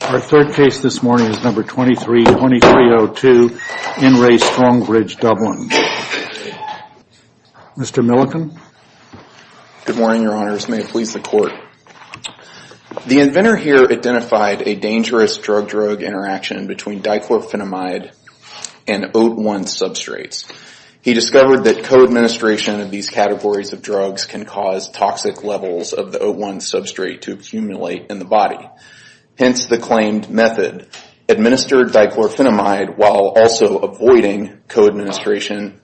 Our third case this morning is number 23-2302 in Re Strongbridge Dublin. Mr. Millican. Good morning your honors, may it please the court. The inventor here identified a dangerous drug-drug interaction between dichlorophenamide and OAT1 substrates. He discovered that co-administration of these categories of drugs can cause toxic levels of the OAT1 substrate to accumulate in the body. Hence the claimed method, administer dichlorophenamide while also avoiding co-administration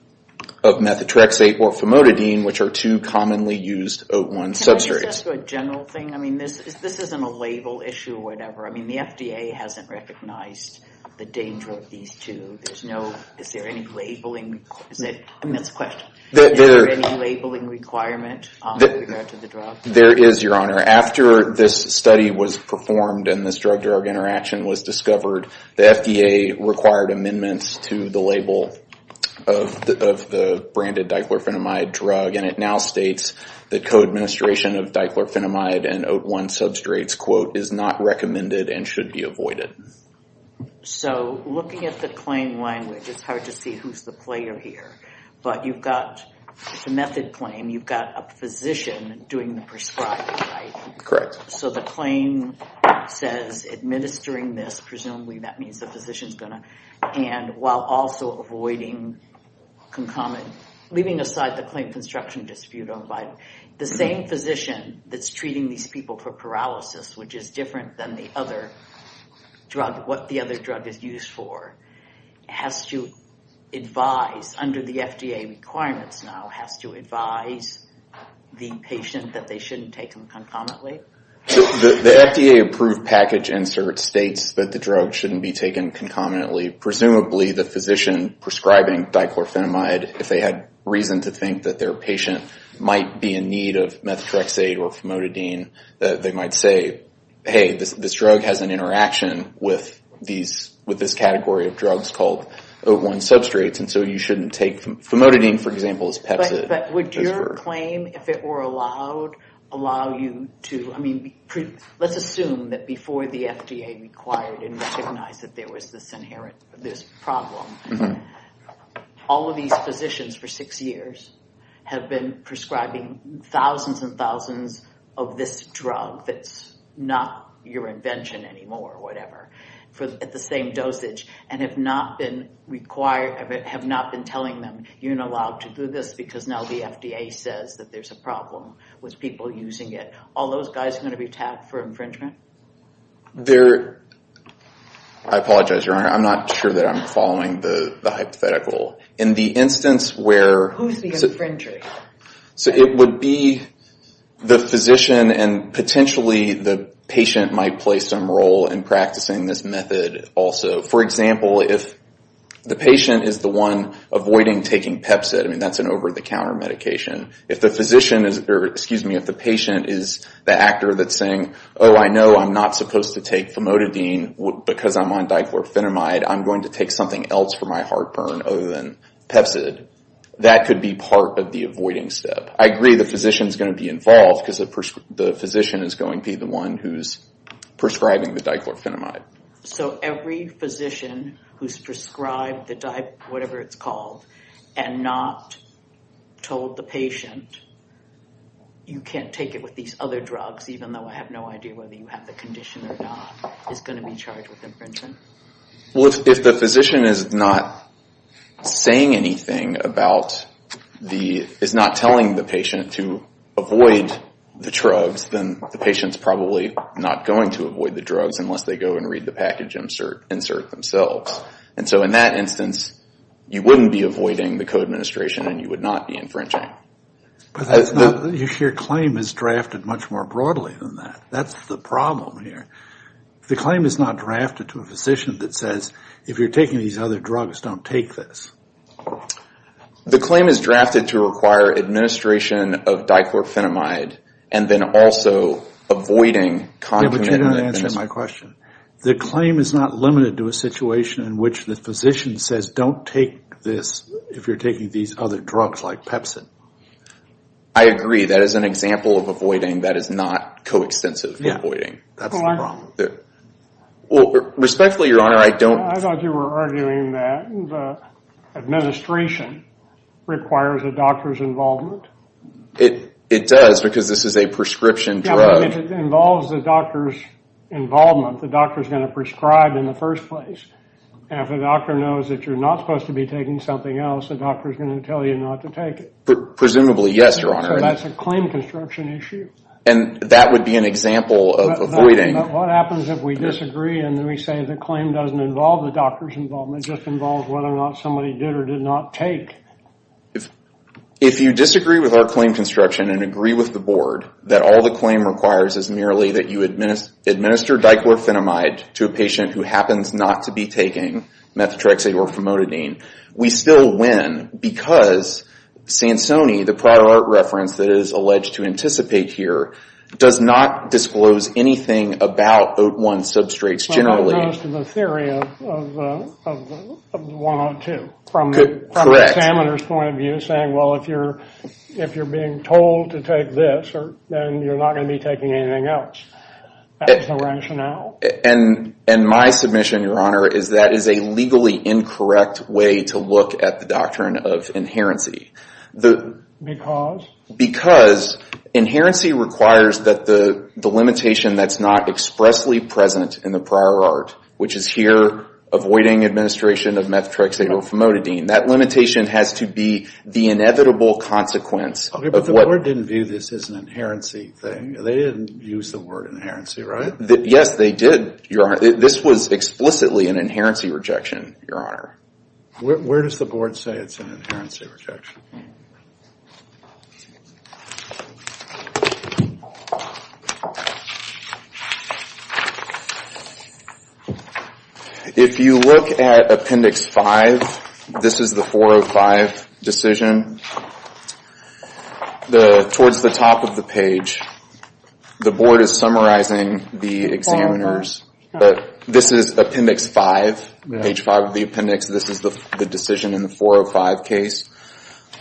of methotrexate or famotidine, which are two commonly used OAT1 substrates. Can I just ask a general thing, I mean this isn't a label issue or whatever, I mean the FDA hasn't recognized the danger of these two, there's no, is there any labeling, is it, I mean that's a question, is there any labeling requirement with regard to the drug? There is your honor. After this study was performed and this drug-drug interaction was discovered, the FDA required amendments to the label of the branded dichlorophenamide drug and it now states that co-administration of dichlorophenamide and OAT1 substrates, quote, is not recommended and should be avoided. So looking at the claim language, it's hard to see who's the player here, but you've got the method claim, you've got a physician doing the prescribing, right? So the claim says administering this, presumably that means the physician's going to, and while also avoiding concomitant, leaving aside the claim construction dispute, the same physician that's treating these people for paralysis, which is different than the other drug, what FDA requirements now has to advise the patient that they shouldn't take them concomitantly? So the FDA approved package insert states that the drug shouldn't be taken concomitantly, presumably the physician prescribing dichlorophenamide, if they had reason to think that their patient might be in need of methotrexate or famotidine, they might say, hey, this drug has an interaction with this category of drugs called OAT1 substrates, and so you shouldn't take famotidine, for example, as Pepsi. But would your claim, if it were allowed, allow you to, I mean, let's assume that before the FDA required and recognized that there was this inherent, this problem, all of these physicians for six years have been prescribing thousands and thousands of this drug that's not your invention anymore, whatever, at the same dosage, and have not been required, have not been telling them you're not allowed to do this because now the FDA says that there's a problem with people using it, all those guys are going to be tagged for infringement? I apologize, Your Honor, I'm not sure that I'm following the hypothetical. In the instance where... Who's the infringer? So it would be the physician, and potentially the patient might play some role in practicing this method also. For example, if the patient is the one avoiding taking Pepsi, I mean, that's an over-the-counter medication. If the physician is, or excuse me, if the patient is the actor that's saying, oh, I know I'm not supposed to take famotidine because I'm on Pepsid, that could be part of the avoiding step. I agree the physician's going to be involved because the physician is going to be the one who's prescribing the diclorfenamide. So every physician who's prescribed the, whatever it's called, and not told the patient, you can't take it with these other drugs, even though I have no idea whether you have the condition or not, is going to be charged with infringement? Well, if the physician is not saying anything about the, is not telling the patient to avoid the drugs, then the patient's probably not going to avoid the drugs unless they go and read the package insert themselves. And so in that instance, you wouldn't be avoiding the co-administration and you would not be infringing. But that's not, your claim is drafted much more broadly than that. That's the problem here. The claim is not drafted to a physician that says, if you're taking these other drugs, don't take this. The claim is drafted to require administration of diclorfenamide and then also avoiding Yeah, but you don't answer my question. The claim is not limited to a situation in which the physician says, don't take this if you're taking these other drugs like Pepsid. I agree. That is an example of avoiding that is not coextensive avoiding. That's the problem there. Well, respectfully, your honor, I don't I thought you were arguing that the administration requires a doctor's involvement. It does because this is a prescription drug. If it involves the doctor's involvement, the doctor is going to prescribe in the first place. And if a doctor knows that you're not supposed to be taking something else, the doctor is going to tell you not to take it. Presumably, yes, your honor. That's a claim construction issue. And that would be an example of avoiding. What happens if we disagree and we say the claim doesn't involve the doctor's involvement, it just involves whether or not somebody did or did not take. If you disagree with our claim construction and agree with the board that all the claim requires is merely that you administer diclorfenamide to a patient who happens not to be taking methotrexate or promododine, we still win because Sansoni, the prior art reference that is alleged to anticipate here, does not disclose anything about OAT1 substrates generally. As opposed to the theory of the one on two from the examiner's point of view, saying, well, if you're being told to take this, then you're not going to be taking anything else. That's the rationale. And my submission, your honor, is that is a legally incorrect way to look at the doctrine of inherency. Because? Because inherency requires that the limitation that's not expressly present in the prior art, which is here, avoiding administration of methotrexate or promododine, that limitation has to be the inevitable consequence. But the board didn't view this as an inherency thing. They didn't use the word inherency, right? Yes, they did, your honor. This was explicitly an inherency rejection, your honor. Where does the board say it's an inherency rejection? If you look at Appendix 5, this is the 405 decision, and towards the top of the page, the board is summarizing the examiner's. This is Appendix 5, page 5 of the appendix. This is the decision in the 405 case.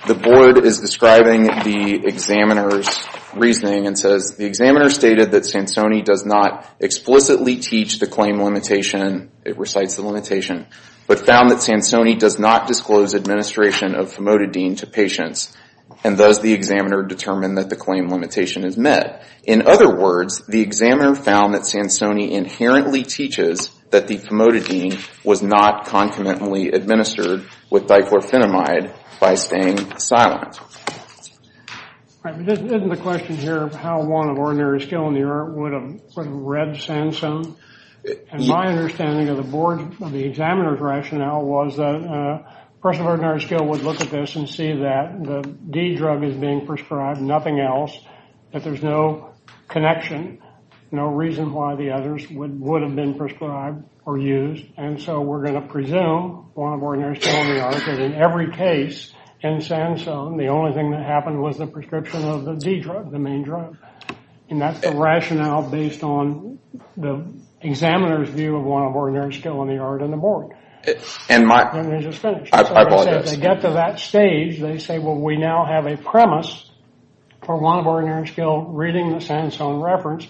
The board is describing the examiner's reasoning and says, the examiner stated that Sansoni does not explicitly teach the claim limitation, it recites the limitation, but found that Sansoni does not disclose administration of promododine to patients, and thus the examiner determined that the claim limitation is met. In other words, the examiner found that Sansoni inherently teaches that the promododine was not concomitantly administered with dichlorphenamide by staying silent. Isn't the question here of how one of ordinary skill in the art would have read Sanson? And my understanding of the board, of the examiner's rationale, was that a person of ordinary skill would look at this and see that the D drug is being prescribed, nothing else, that there's no connection, no reason why the others would have been prescribed or used, and so we're going to presume one of ordinary skill in the art that in every case in Sanson, the only thing that happened was the prescription of the D drug, the main drug. And that's the rationale based on the examiner's view of one of ordinary skill in the art and the board. And they just finished. I apologize. They get to that stage, they say, well, we now have a premise for one of ordinary skill reading the Sanson reference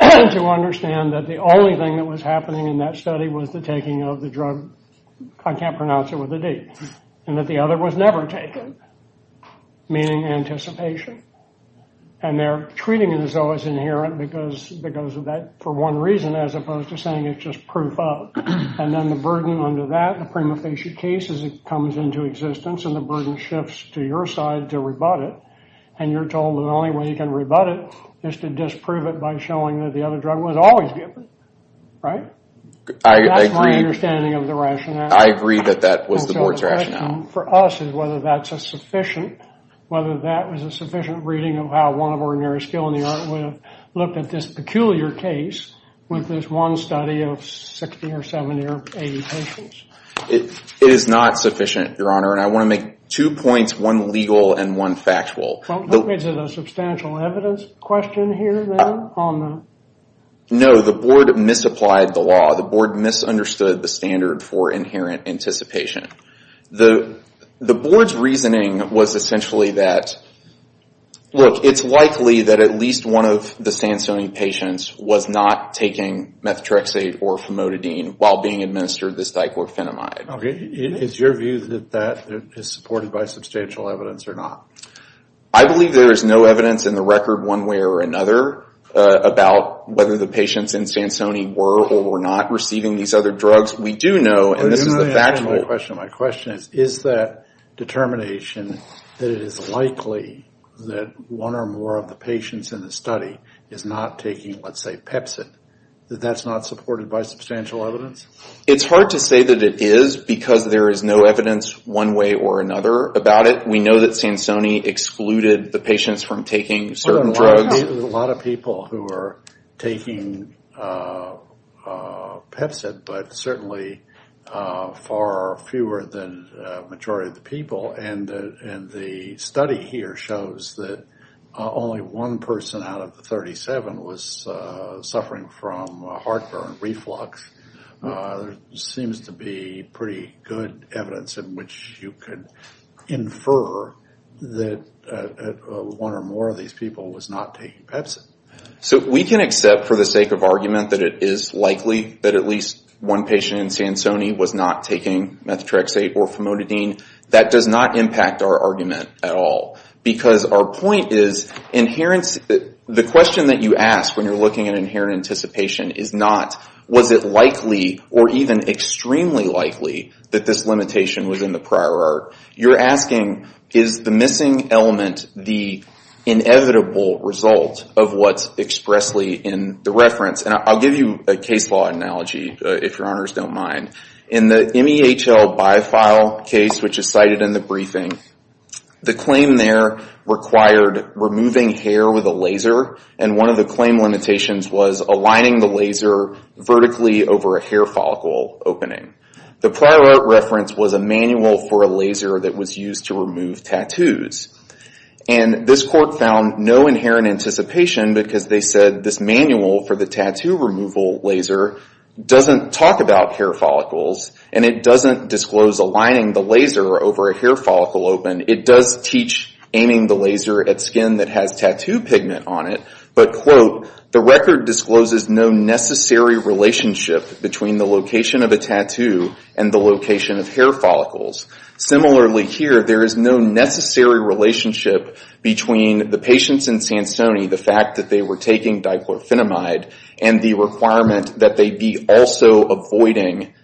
to understand that the only thing that was happening in that study was the taking of the drug, I can't pronounce it with a D, and that the other was never taken, meaning anticipation. And they're treating it as though it's inherent because of that, for one reason, as opposed to saying it's just proof of. And then the burden under that, the prima facie case, as it comes into existence, and the burden shifts to your side to rebut it, and you're told the only way you can rebut it is to disprove it by showing that the other drug was always given, right? And that's my understanding of the rationale. I agree that that was the board's rationale. For us, is whether that's a sufficient, whether that was a sufficient reading of how one of ordinary skill and the other would have looked at this peculiar case with this one study of 60 or 70 or 80 patients. It is not sufficient, Your Honor. And I want to make two points, one legal and one factual. Well, is it a substantial evidence question here, then, on that? No, the board misapplied the law. The board misunderstood the standard for inherent anticipation. The board's reasoning was essentially that, look, it's likely that at least one of the Sansoni patients was not taking methotrexate or famotidine while being administered this diclofenamide. Okay, is your view that that is supported by substantial evidence or not? I believe there is no evidence in the record one way or another about whether the patients in Sansoni were or were not receiving these other drugs. We do know, and this is the factual... My question is, is that determination that it is likely that one or more of the patients in the study is not taking, let's say, pepsin, that that's not supported by substantial evidence? It's hard to say that it is because there is no evidence one way or another about it. We know that Sansoni excluded the patients from taking certain drugs. A lot of people who are taking pepsin, but certainly far fewer than the majority of the people, and the study here shows that only one person out of the 37 was suffering from heartburn, reflux. There seems to be pretty good evidence in which you could infer that one or more of these people was not taking pepsin. So we can accept for the sake of argument that it is likely that at least one patient in Sansoni was not taking methotrexate or famotidine. That does not impact our argument at all. Because our point is, the question that you ask when you're looking at inherent anticipation is not, was it likely or even extremely likely that this limitation was in the prior art? You're asking, is the missing element the inevitable result of what's expressly in the reference? I'll give you a case law analogy, if your honors don't mind. In the MEHL bi-file case, which is cited in the briefing, the claim there required removing hair with a laser, and one of the claim limitations was aligning the laser vertically over a hair follicle opening. The prior art reference was a manual for a laser that was used to remove tattoos. And this court found no inherent anticipation because they said this manual for the tattoo removal laser doesn't talk about hair follicles, and it doesn't disclose aligning the laser over a hair follicle open. It does teach aiming the laser at skin that has tattoo pigment on it, but quote, the record discloses no necessary relationship between the location of a tattoo and the location of hair follicles. Similarly here, there is no necessary relationship between the patients in Sansoni, the fact that they were taking diplorphinamide, and the requirement that they be also avoiding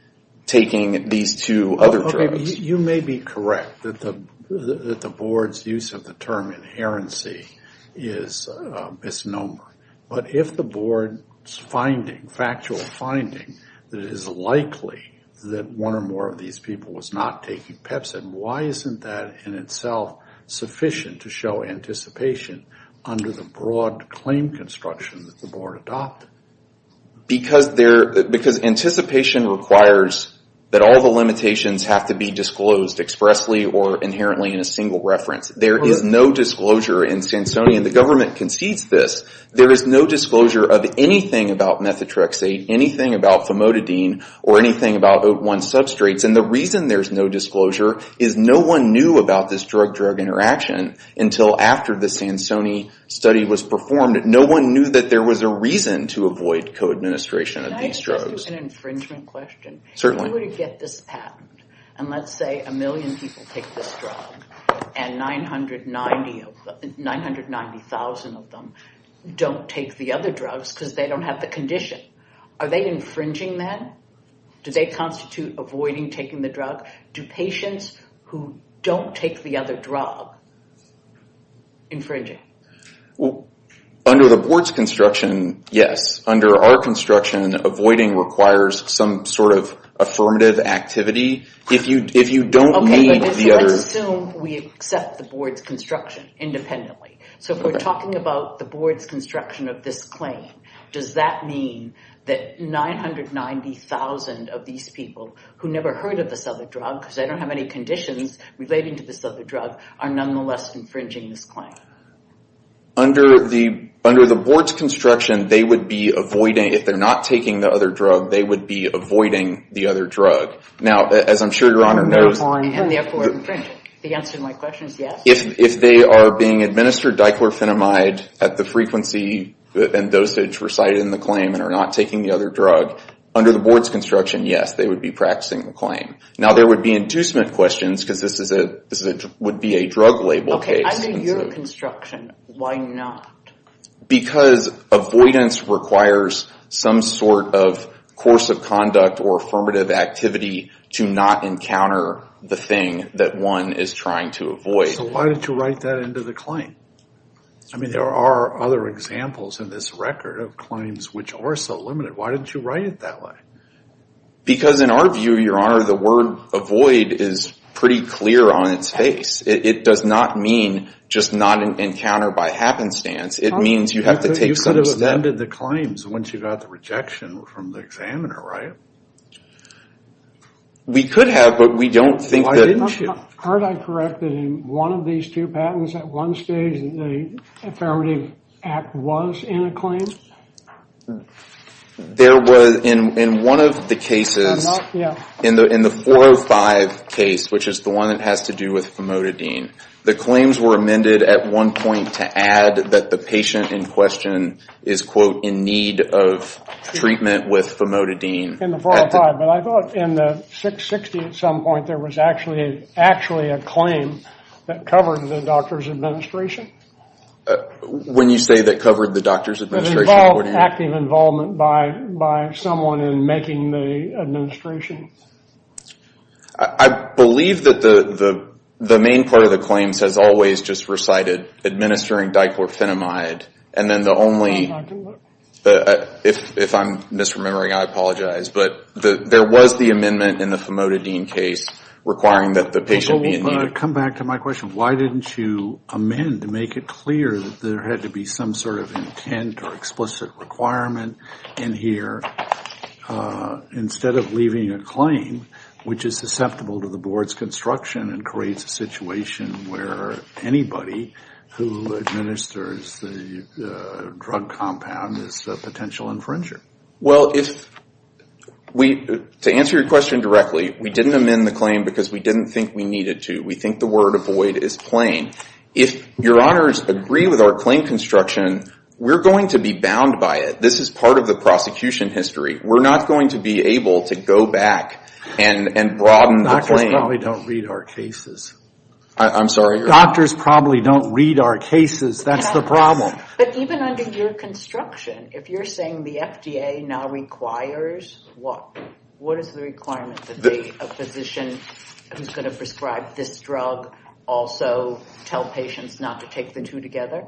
taking these two other drugs. You may be correct that the board's use of the term inherency is misnomer, but if the board's finding, factual finding, that it is likely that one or more of these people was not taking Pepsin, why isn't that in itself sufficient to show anticipation under the broad claim construction that the board adopted? Because anticipation requires that all the limitations have to be disclosed expressly or inherently in a single reference. There is no disclosure in Sansoni, and the government concedes this. There is no disclosure of anything about methotrexate, anything about famotidine, or anything about OAT1 substrates. And the reason there's no disclosure is no one knew about this drug-drug interaction until after the Sansoni study was performed. No one knew that there was a reason to avoid co-administration of these drugs. Can I ask you an infringement question? Certainly. If you were to get this patent, and let's say a million people take this drug, and 990,000 of them don't take the other drugs because they don't have the condition, are they infringing then? Do they constitute avoiding taking the drug? Do patients who don't take the other drug infringe it? Well, under the board's construction, yes. Under our construction, avoiding requires some sort of affirmative activity. If you don't need the others... Okay, let's assume we accept the board's construction independently. So if we're talking about the board's construction of this claim, does that mean that 990,000 of these people who never heard of this other drug because they don't have any conditions relating to this other drug are nonetheless infringing this claim? Under the board's construction, they would be avoiding... If they're not taking the other drug, they would be avoiding the other drug. Now, as I'm sure Your Honor knows... And therefore infringe it. The answer to my question is yes. If they are being administered dichlorphenamide at the frequency and dosage recited in the claim and are not taking the other drug, under the board's construction, yes, they would be practicing the claim. Now, there would be inducement questions because this would be a drug label case. Okay, under your construction, why not? Because avoidance requires some sort of course of conduct or affirmative activity to not encounter the thing that one is trying to avoid. So why don't you write that into the claim? I mean, there are other examples in this record of claims which are so limited. Why don't you write it that way? Because in our view, Your Honor, the word avoid is pretty clear on its face. It does not mean just not encounter by happenstance. It means you have to take some step. You could have amended the claims once you got the rejection from the examiner, right? We could have, but we don't think that... Why didn't you? Aren't I correct that in one of these two patents, at one stage, the Affirmative Act was in a claim? There was in one of the cases, in the 405 case, which is the one that has to do with famotidine, the claims were amended at one point to add that the patient in question is, quote, in need of treatment with famotidine. In the 405, but I thought in the 660 at some point, there was actually a claim that covered the doctor's administration. When you say that covered the doctor's administration? It involved active involvement by someone in making the administration. I believe that the main part of the claims has always just recited, administering diclorfenamide, and then the only... I'm not doing that. If I'm misremembering, I apologize, but there was the amendment in the famotidine case requiring that the patient be in need. Come back to my question. Why didn't you amend to make it clear that there had to be some sort of intent or explicit requirement in here instead of leaving a claim which is susceptible to the board's construction and creates a situation where anybody who administers the drug compound is a potential infringer? To answer your question directly, we didn't amend the claim because we didn't think we needed to. We think the word avoid is plain. If your honors agree with our claim construction, we're going to be bound by it. This is part of the prosecution history. We're not going to be able to go back and broaden the claim. Doctors probably don't read our cases. I'm sorry? Doctors probably don't read our cases. That's the problem. But even under your construction, if you're saying the FDA now requires what? What is the requirement to be a physician who's going to prescribe this drug also tell patients not to take the two together?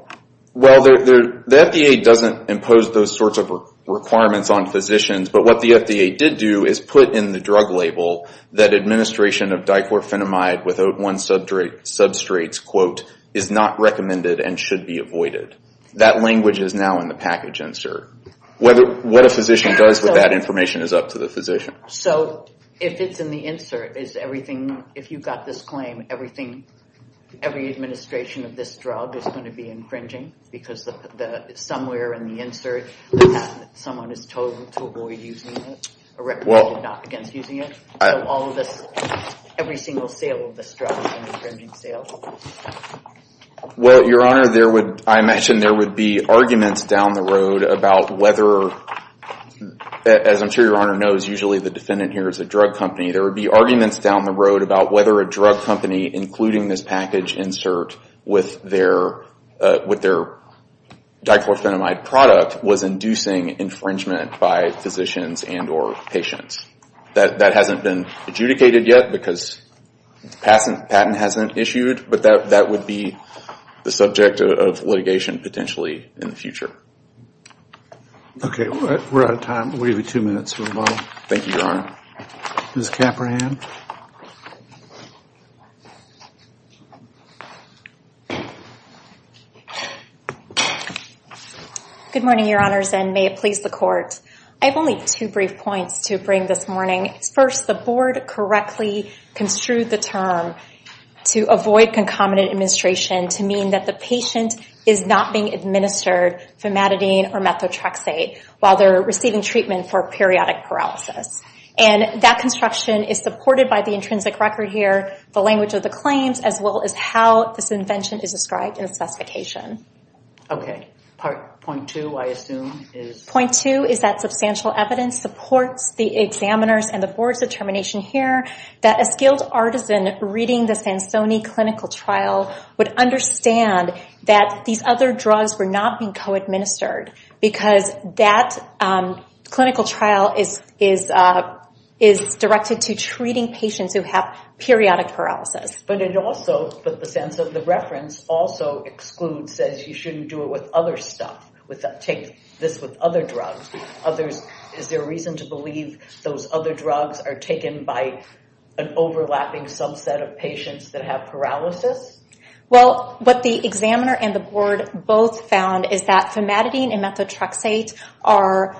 Well, the FDA doesn't impose those sorts of requirements on physicians. But what the FDA did do is put in the drug label that administration of diclorfenamide without one substrate, quote, is not recommended and should be avoided. That language is now in the package insert. What a physician does with that information is up to the physician. So if it's in the insert, is everything, if you've got this claim, everything, every administration of this drug is going to be infringing because somewhere in the insert someone is told to avoid using it or not against using it. Every single sale of this drug is an infringing sale. Well, your honor, there would, I mentioned there would be arguments down the road about whether, as I'm sure your honor knows, usually the defendant here is a drug company, there would be arguments down the road about whether a drug company, including this package insert with their diclorfenamide product was inducing infringement by physicians and or patients. That hasn't been adjudicated yet because patent hasn't issued, but that would be the subject of litigation potentially in the future. Okay, we're out of time. We'll give you two minutes for rebuttal. Thank you, your honor. Ms. Caprahan. Good morning, your honors, and may it please the court. I have only two brief points to bring this morning. First, the board correctly construed the term to avoid concomitant administration to mean that the patient is not being administered familiarly. Methadone or methotrexate while they're receiving treatment for periodic paralysis. And that construction is supported by the intrinsic record here, the language of the claims, as well as how this invention is described in the specification. Okay, point two, I assume, is... Point two is that substantial evidence supports the examiner's and the board's determination here that a skilled artisan reading the Sansoni clinical trial would understand that these other drugs were not being co-administered because that clinical trial is directed to treating patients who have periodic paralysis. But it also, but the sense of the reference also excludes, says you shouldn't do it with other stuff, take this with other drugs. Others, is there a reason to believe those other drugs are taken by an overlapping subset of patients that have paralysis? Well, what the examiner and the board both found is that famadidine and methotrexate are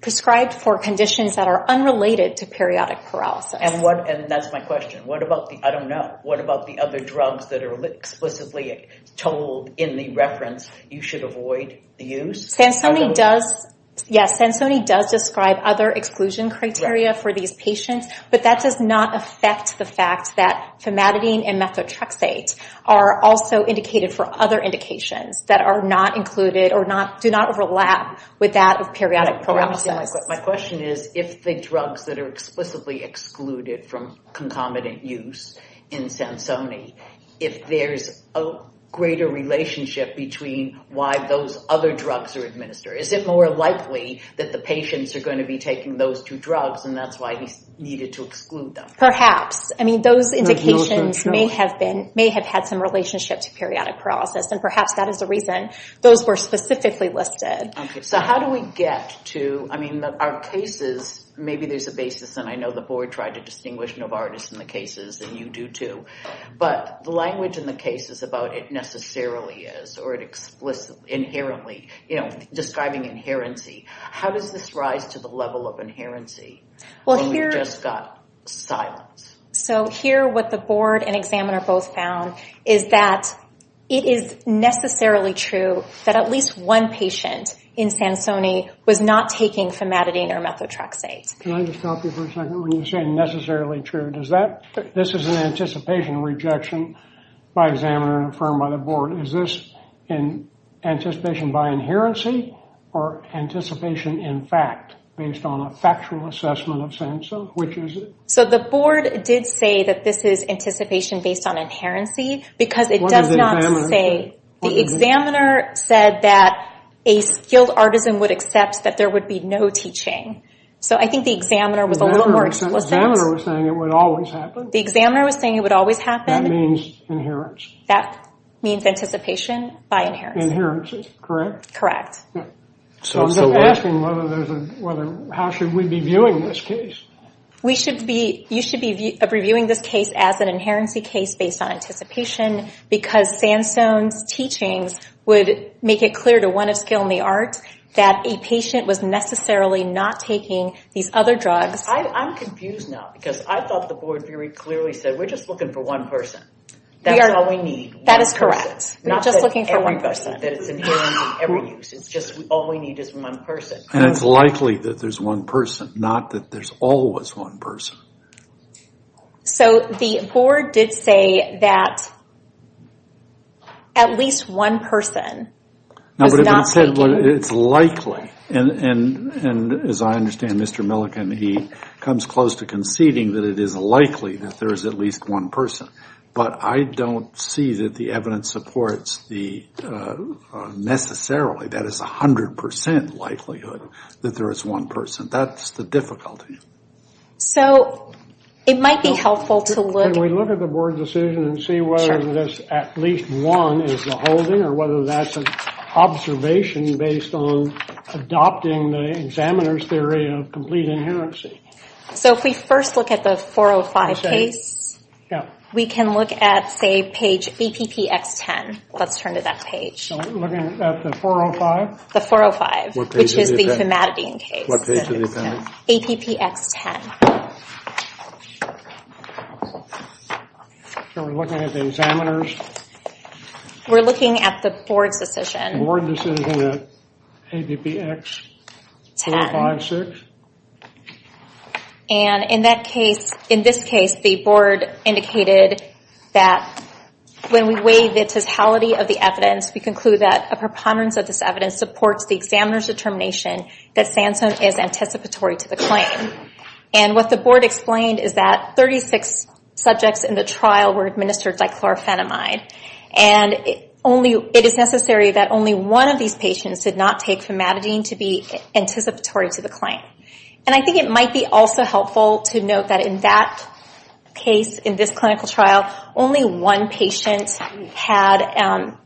prescribed for conditions that are unrelated to periodic paralysis. And what, and that's my question, what about the, I don't know, what about the other drugs that are explicitly told in the reference you should avoid the use? Sansoni does, yes, Sansoni does describe other exclusion criteria for these patients, but that does not affect the fact that famadidine and methotrexate are also indicated for other indications that are not included or do not overlap with that of periodic paralysis. My question is, if the drugs that are explicitly excluded from concomitant use in Sansoni, if there's a greater relationship between why those other drugs are administered, is it more likely that the patients are going to be taking those two drugs and that's why he needed to exclude them? Perhaps. I mean, those indications may have been, may have had some relationship to periodic paralysis, and perhaps that is the reason those were specifically listed. Okay, so how do we get to, I mean, our cases, maybe there's a basis, and I know the board tried to distinguish Novartis in the cases, and you do too, but the language in the case is about it necessarily is, or it explicitly, inherently, you know, describing inherency. How does this rise to the level of inherency when we've just got silence? So here what the board and examiner both found is that it is necessarily true that at least one patient in Sansoni was not taking famadidine or methotrexate. Can I just stop you for a second? When you say necessarily true, does that, this is an anticipation rejection by examiner and affirmed by the board. Is this an anticipation by inherency or anticipation in fact based on a factual assessment of Sanson? Which is it? So the board did say that this is anticipation based on inherency because it does not say, the examiner said that a skilled artisan would accept that there would be no teaching. So I think the examiner was a little more explicit. The examiner was saying it would always happen. The examiner was saying it would always happen. That means inherence. That means anticipation by inherence. Inherence, correct? So I'm just asking whether there's a, whether, how should we be viewing this case? We should be, you should be reviewing this case as an inherency case based on anticipation because Sanson's teachings would make it clear to one of skilled in the art that a patient was necessarily not taking these other drugs. I'm confused now because I thought the board very clearly said we're just looking for one person. That's all we need. That is correct. We're just looking for one person. That it's inherent in every use. It's just all we need is one person. And it's likely that there's one person, not that there's always one person. So the board did say that at least one person was not taking. It's likely. And as I understand Mr. Milliken, he comes close to conceding that it is likely that there is at least one person. But I don't see that the evidence supports the necessarily, that is 100% likelihood that there is one person. That's the difficulty. So it might be helpful to look. Can we look at the board decision and see whether this at least one is the holding or whether that's an observation based on adopting the examiner's theory of complete inherency. So if we first look at the 405 case, we can look at, say, page APPX10. Let's turn to that page. So looking at the 405? The 405, which is the hematidine case. What page of the appendix? APPX10. So we're looking at the examiner's? We're looking at the board's decision. Board decision at APPX456? And in that case, in this case, the board indicated that when we weigh the totality of the evidence, we conclude that a preponderance of this evidence supports the examiner's determination that Sansone is anticipatory to the claim. And what the board explained is that 36 subjects in the trial were administered dichlorophenamide. And it is necessary that only one of these patients did not take hematidine to be anticipatory to the claim. And I think it might be also helpful to note that in that case, in this clinical trial, only one patient had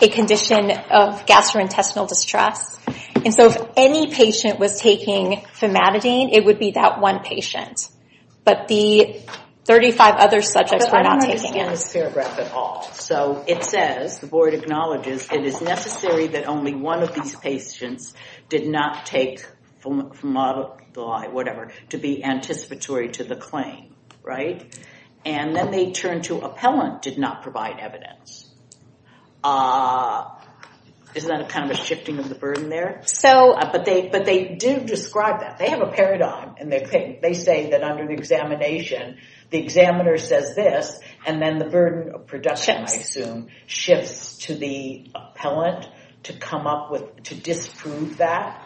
a condition of gastrointestinal distress. And so if any patient was taking hematidine, it would be that one patient. But the 35 other subjects were not taking it. But I don't understand this paragraph at all. So it says, the board acknowledges, it is necessary that only one of these patients did not take whatever to be anticipatory to the claim. And then they turn to appellant did not provide evidence. Is that kind of a shifting of the burden there? But they do describe that. They have a paradigm. And they say that under the examination, the examiner says this, and then the burden of production, shifts to the appellant to come up with, to disprove that.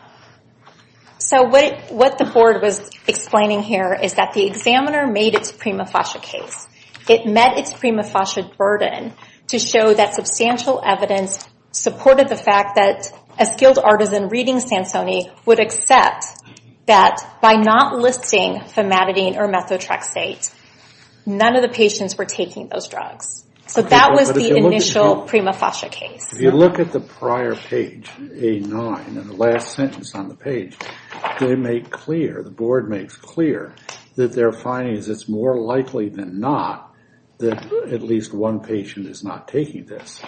So what the board was explaining here is that the examiner made its prima facie case. It met its prima facie burden to show that substantial evidence supported the fact that a skilled artisan reading Sansoni would accept that by not listing famadidine or methotrexate, none of the patients were taking those drugs. So that was the initial prima facie case. If you look at the prior page, A9, and the last sentence on the page, they make clear, the board makes clear, that their findings, it's more likely than not that at least one patient is not taking this.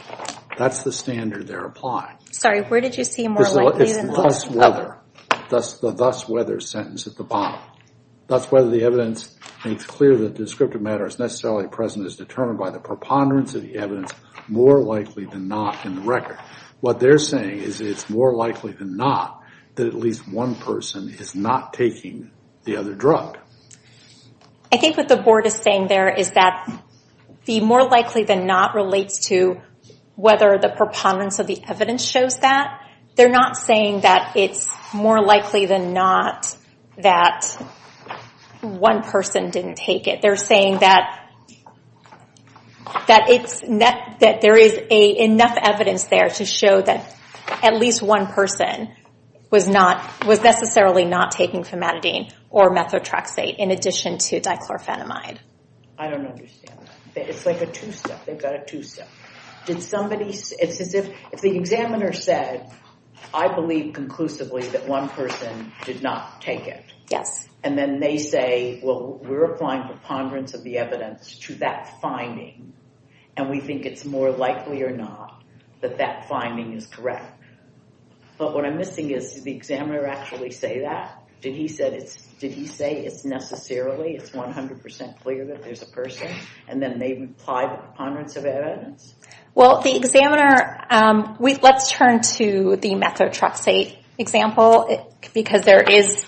That's the standard they're applying. Sorry, where did you see more likely than not? It's thus whether. That's the thus whether sentence at the bottom. Thus whether the evidence makes clear that descriptive matter is necessarily present is determined by the preponderance of the evidence more likely than not in the record. What they're saying is it's more likely than not that at least one person is not taking the other drug. I think what the board is saying there is that the more likely than not relates to whether the preponderance of the evidence shows that. They're not saying that it's more likely than not that one person didn't take it. They're saying that there is enough evidence there to show that at least one person was necessarily not taking Fematidine or Methotrexate in addition to Dichlorophenamide. I don't understand that. It's like a two-step. They've got a two-step. Did somebody say it's as if if the examiner said I believe conclusively that one person did not take it. Yes. And then they say well we're applying preponderance of the evidence to that finding and we think it's more likely or not that that finding is correct. But what I'm missing is the examiner actually say that? Did he say it's necessarily it's 100% clear that there's a person and then they've applied the preponderance of evidence? Well the examiner let's turn to the Methotrexate example because there is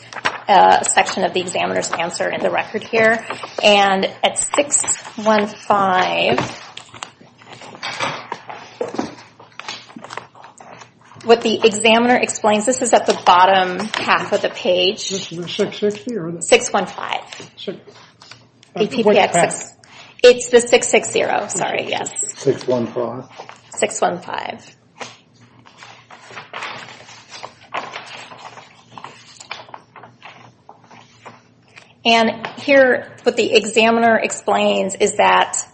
a section of the examiner's answer in the record here. And at 615 what the examiner explains this is at the bottom half of the page. 615. It's the 660. Sorry. Yes. 615. And here what the examiner explains is that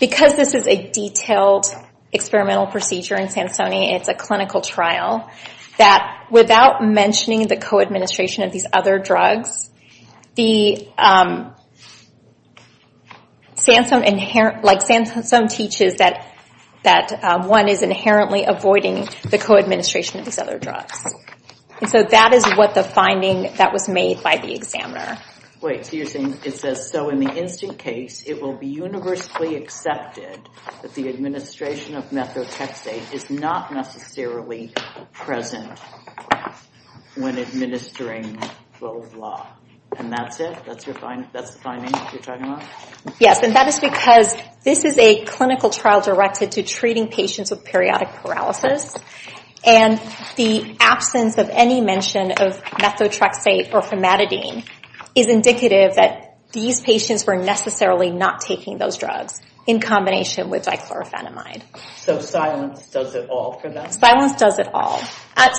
because this is a detailed experimental procedure in Sansoni it's a clinical trial that without mentioning the co-administration of these other drugs the Sansone inherent like Sansone teaches that that one is inherently avoiding the co-administration of these other drugs. And so that is what the finding that was made by the examiner. Wait so you're saying it says so in the instant case it will be universally accepted that the administration of Methotrexate is not necessarily present when administering the law. And that's it? That's the finding you're talking about? Yes and that is because this is a clinical trial directed to treating patients with periodic paralysis. And the absence of any mention of Methotrexate or Formatidine is indicative that these patients were necessarily not taking those drugs in combination with Dichlorophenamide. So silence does it all for them? Silence does it all.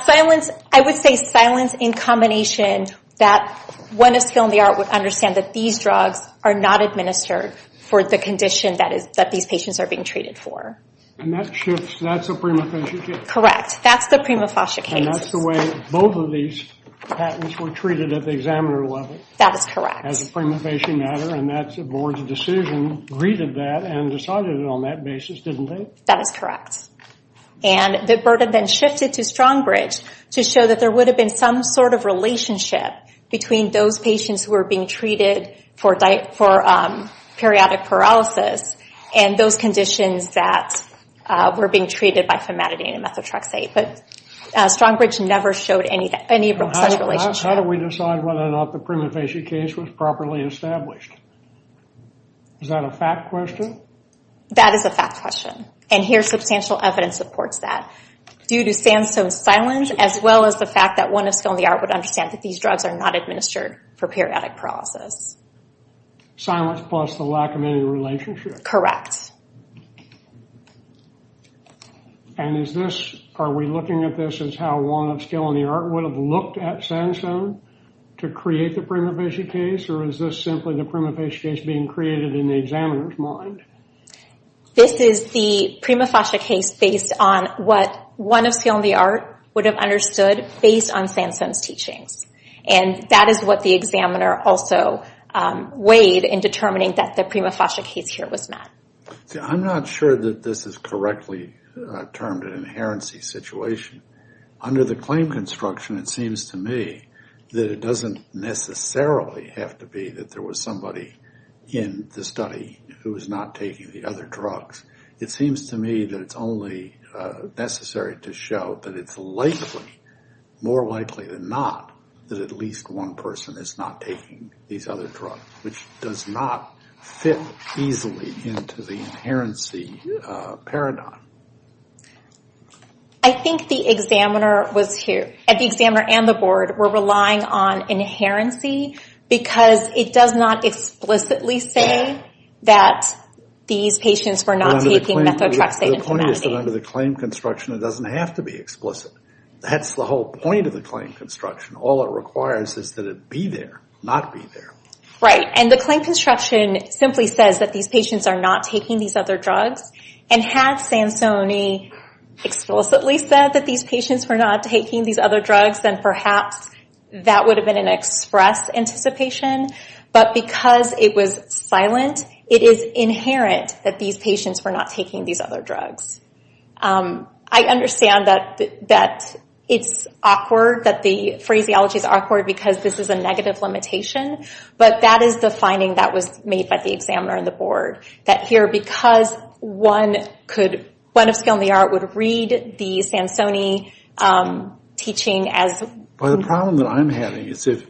Silence I would say silence in combination that when a skill in the art would understand that these drugs are not administered for the condition that is that these patients are being treated for. And that shifts that's the prima facie case? Correct that's the prima facie case. And that's the way both of these patents were treated at the examiner level? That is correct. As a prima facie matter and that's the board's decision greeted that and decided it on that basis didn't they? That is correct. And the burden then shifted to Strongbridge to show that there would have been some sort of relationship between those patients who were being treated for periodic paralysis and those conditions that were being treated by Formatidine and Methotrexate. But Strongbridge never showed any of such a relationship. How do we decide whether or not the prima facie case was properly established? Is that a fact question? That is a fact question. And here substantial evidence supports that. Due to Sandstone's silence as well as the fact that one of Skill and the Art would understand that these drugs are not administered for periodic paralysis. Silence plus the lack of any relationship? And is this, are we looking at this as how one of Skill and the Art would have looked at Sandstone to create the prima facie case? Or is this simply the prima facie case being created in the examiner's mind? This is the prima facie case based on what one of Skill and the Art would have understood based on Sandstone's teachings. And that is what the examiner also weighed in determining that the prima facie case here was met. I'm not sure that this is correctly termed an inherency situation. Under the claim construction it seems to me that it doesn't necessarily have to be that there was somebody in the study who was not taking the other drugs. It seems to me that it's only necessary to show that it's likely, more likely than not, that at least one person is not taking these other drugs, which does not fit easily into the inherency paradigm. I think the examiner was here, and the examiner and the board were relying on inherency because it does not explicitly say that these patients were not taking methotrexate. The point is that under the claim construction it doesn't have to be explicit. That's the whole point of the claim construction. All it requires is that it be there, not be there. Right. And the claim construction simply says that these patients are not taking these other drugs. And had Sandstone explicitly said that these patients were not taking these other drugs, then perhaps that would have been an express anticipation. But because it was silent, it is inherent that these patients were not taking these other drugs. I understand that it's awkward, that the phraseology is awkward because this is a negative limitation, but that is the finding that was made by the examiner and the board. That here, because one could, one of skill and the art would read the Sansoni teaching as... Well, the problem that I'm having is if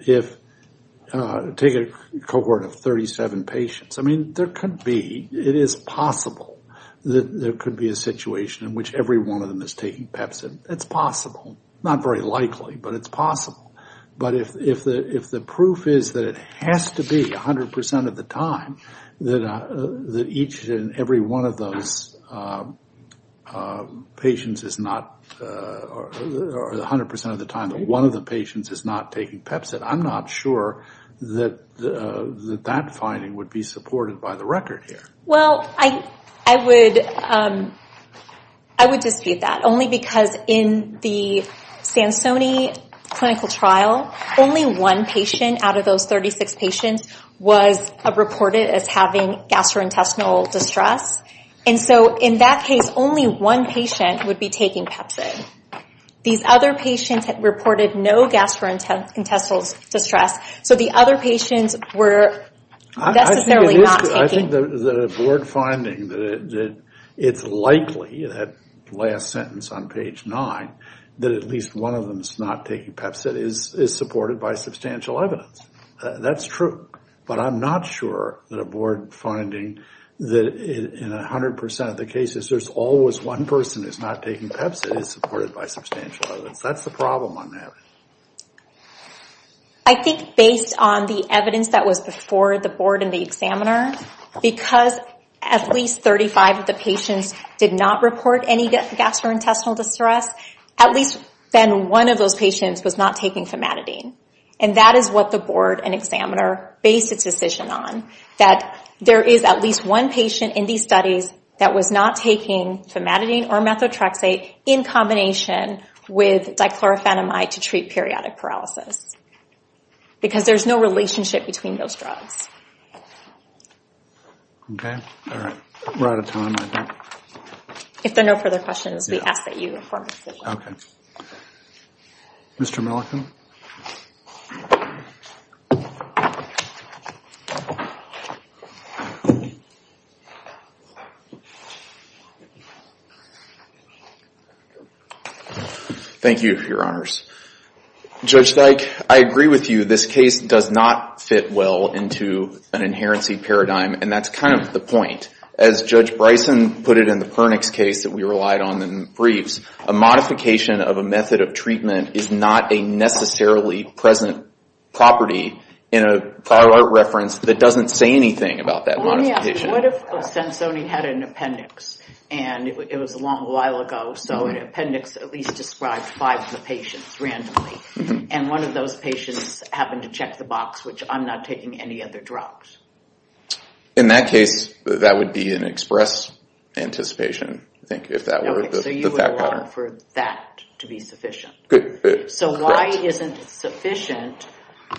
take a cohort of 37 patients. I mean, there could be. It is possible that there could be a situation in which every one of them is taking Pepsin. It's possible. Not very likely, but it's possible. But if the proof is that it has to be 100% of the time that each and every one of those patients is not, or 100% of the time that one of the patients is not taking Pepsin, I'm not sure that that finding would be supported by the record here. Well, I would dispute that. Only because in the Sansoni clinical trial, only one patient out of those 36 patients was reported as having gastrointestinal distress. And so in that case, only one patient would be taking Pepsin. These other patients had reported no gastrointestinal distress. So the other patients were necessarily not taking. I think that a board finding that it's likely, that last sentence on page nine, that at least one of them is not taking Pepsin is supported by substantial evidence. That's true. But I'm not sure that a board finding that in 100% of the cases, there's always one person who's not taking Pepsin is supported by substantial evidence. That's the problem I'm having. I think based on the evidence that was before the board and the examiner, because at least 35 of the patients did not report any gastrointestinal distress, at least then one of those patients was not taking famatidine. And that is what the board and examiner based its decision on. That there is at least one patient in these studies that was not taking famatidine or methotrexate in combination with dichlorophenamide to treat periodic paralysis. Because there's no relationship between those drugs. OK. All right. We're out of time, I think. If there are no further questions, we ask that you form a decision. OK. Mr. Milliken. Thank you, Your Honors. Judge Dyke, I agree with you. This case does not fit well into an inherency paradigm. And that's kind of the point. As Judge Bryson put it in the Pernix case that we relied on in briefs, a modification of a method of treatment is not a necessarily present property in a prior art reference that doesn't say anything about that modification. Let me ask you, what if Sensoni had an appendix? And it was a long while ago, so an appendix at least describes five of the patients randomly. And one of those patients happened to check the box, which I'm not taking any other drugs. In that case, that would be an express anticipation, I think, if that were the pattern. So you would want for that to be sufficient. So why isn't it sufficient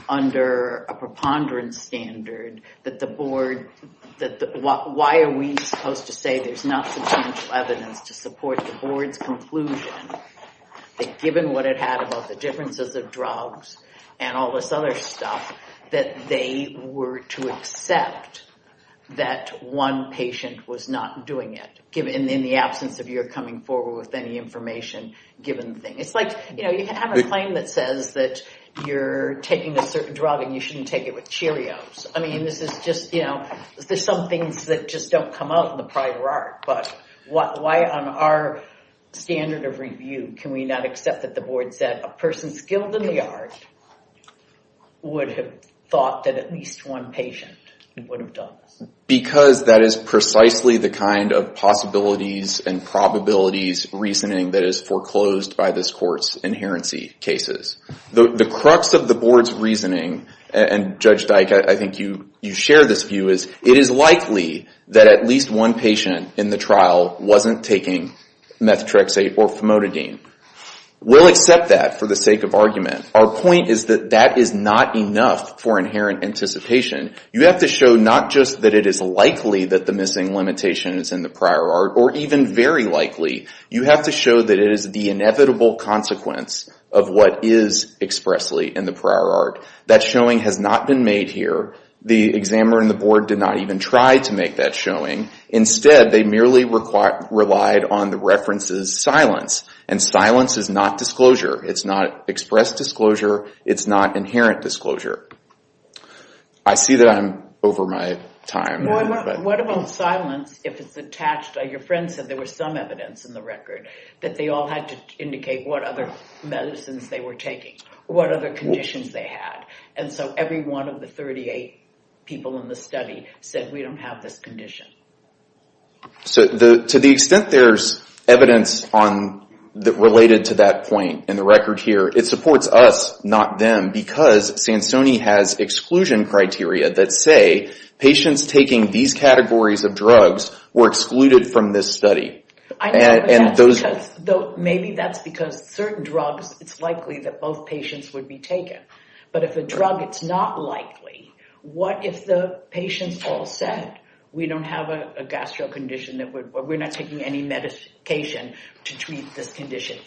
under a preponderance standard that the board... Why are we supposed to say there's not substantial evidence to support the board's conclusion that given what it had about the differences of drugs and all this other stuff, that they were to accept that one patient was not doing it in the absence of your coming forward with any information given the thing? It's like, you know, you can have a claim that says that you're taking a certain drug and you shouldn't take it with Cheerios. I mean, this is just, you know, there's some things that just don't come out in the prior art. But why on our standard of review can we not accept that the board said a person skilled in the art would have thought that at least one patient would have done this? Because that is precisely the kind of possibilities and probabilities reasoning that is foreclosed by this court's inherency cases. The crux of the board's reasoning, and Judge Dyke, I think you share this view, is it is likely that at least one patient in the trial wasn't taking methotrexate or famotidine. We'll accept that for the sake of argument. Our point is that that is not enough for inherent anticipation. You have to show not just that it is likely that the missing limitation is in the prior art, or even very likely. You have to show that it is the inevitable consequence of what is expressly in the prior art. That showing has not been made here. The examiner and the board did not even try to make that showing. Instead, they merely relied on the reference's silence. And silence is not disclosure. It's not express disclosure. It's not inherent disclosure. I see that I'm over my time. Well, what about silence if it's attached? Your friend said there was some evidence in the record that they all had to indicate what other medicines they were taking, what other conditions they had. And so every one of the 38 people in the study said we don't have this condition. So to the extent there's evidence related to that point in the record here, it supports us, not them, because Sansoni has exclusion criteria that say patients taking these categories of drugs were excluded from this study. I know, but maybe that's because certain drugs, it's likely that both patients would be taken. But if a drug, it's not likely, what if the patients all said we don't have a gastro condition that we're not taking any medication to treat this condition?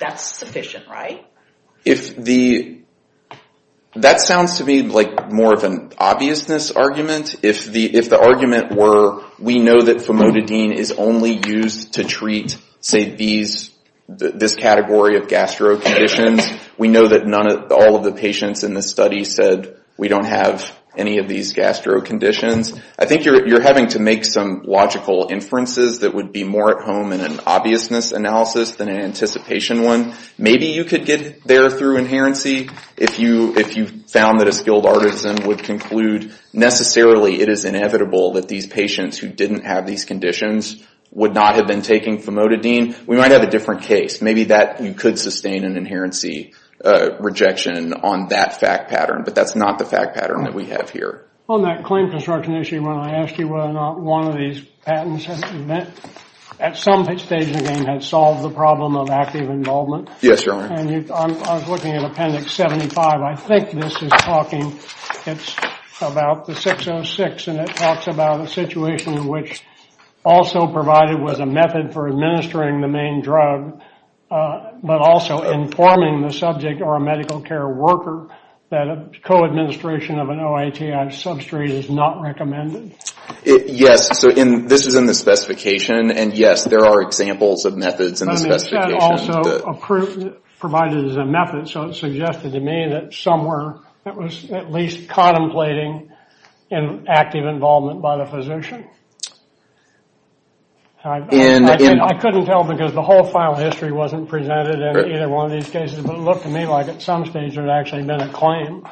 That's sufficient, right? If the, that sounds to me like more of an obviousness argument. If the argument were, we know that famotidine is only used to treat, say, this category of gastro conditions. We know that all of the patients in the study said we don't have any of these gastro conditions. I think you're having to make some logical inferences that would be more at home in an obviousness analysis than an anticipation one. Maybe you could get there through inherency if you found that a skilled artisan would conclude necessarily it is inevitable that these patients who didn't have these conditions would not have been taking famotidine. We might have a different case. Maybe that, you could sustain an inherency rejection on that fact pattern, but that's not the fact pattern that we have here. On that claim construction issue, when I asked you whether or not one of these patents had been met, at some stage the game had solved the problem of active involvement. Yes, Your Honor. And I was looking at Appendix 75. I think this is talking, it's about the 606, and it talks about a situation in which also provided was a method for administering the main drug, but also informing the subject or a medical care worker that a co-administration of an OATI substrate is not recommended. Yes, so this is in the specification, and yes, there are examples of methods in the specification. But it said also, provided as a method, so it suggested to me that somewhere it was at least contemplating an active involvement by the physician. I couldn't tell because the whole file history wasn't presented in either one of these cases, but it looked to me like at some stage there had actually been a claim.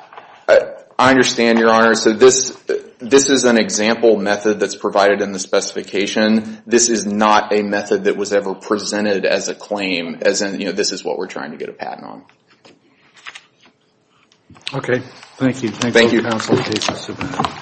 I understand, Your Honor. So this is an example method that's provided in the specification. This is not a method that was ever presented as a claim, as in, you know, this is what we're trying to get a patent on. Okay. Thank you. Thank you, Counselor Casey-Subin.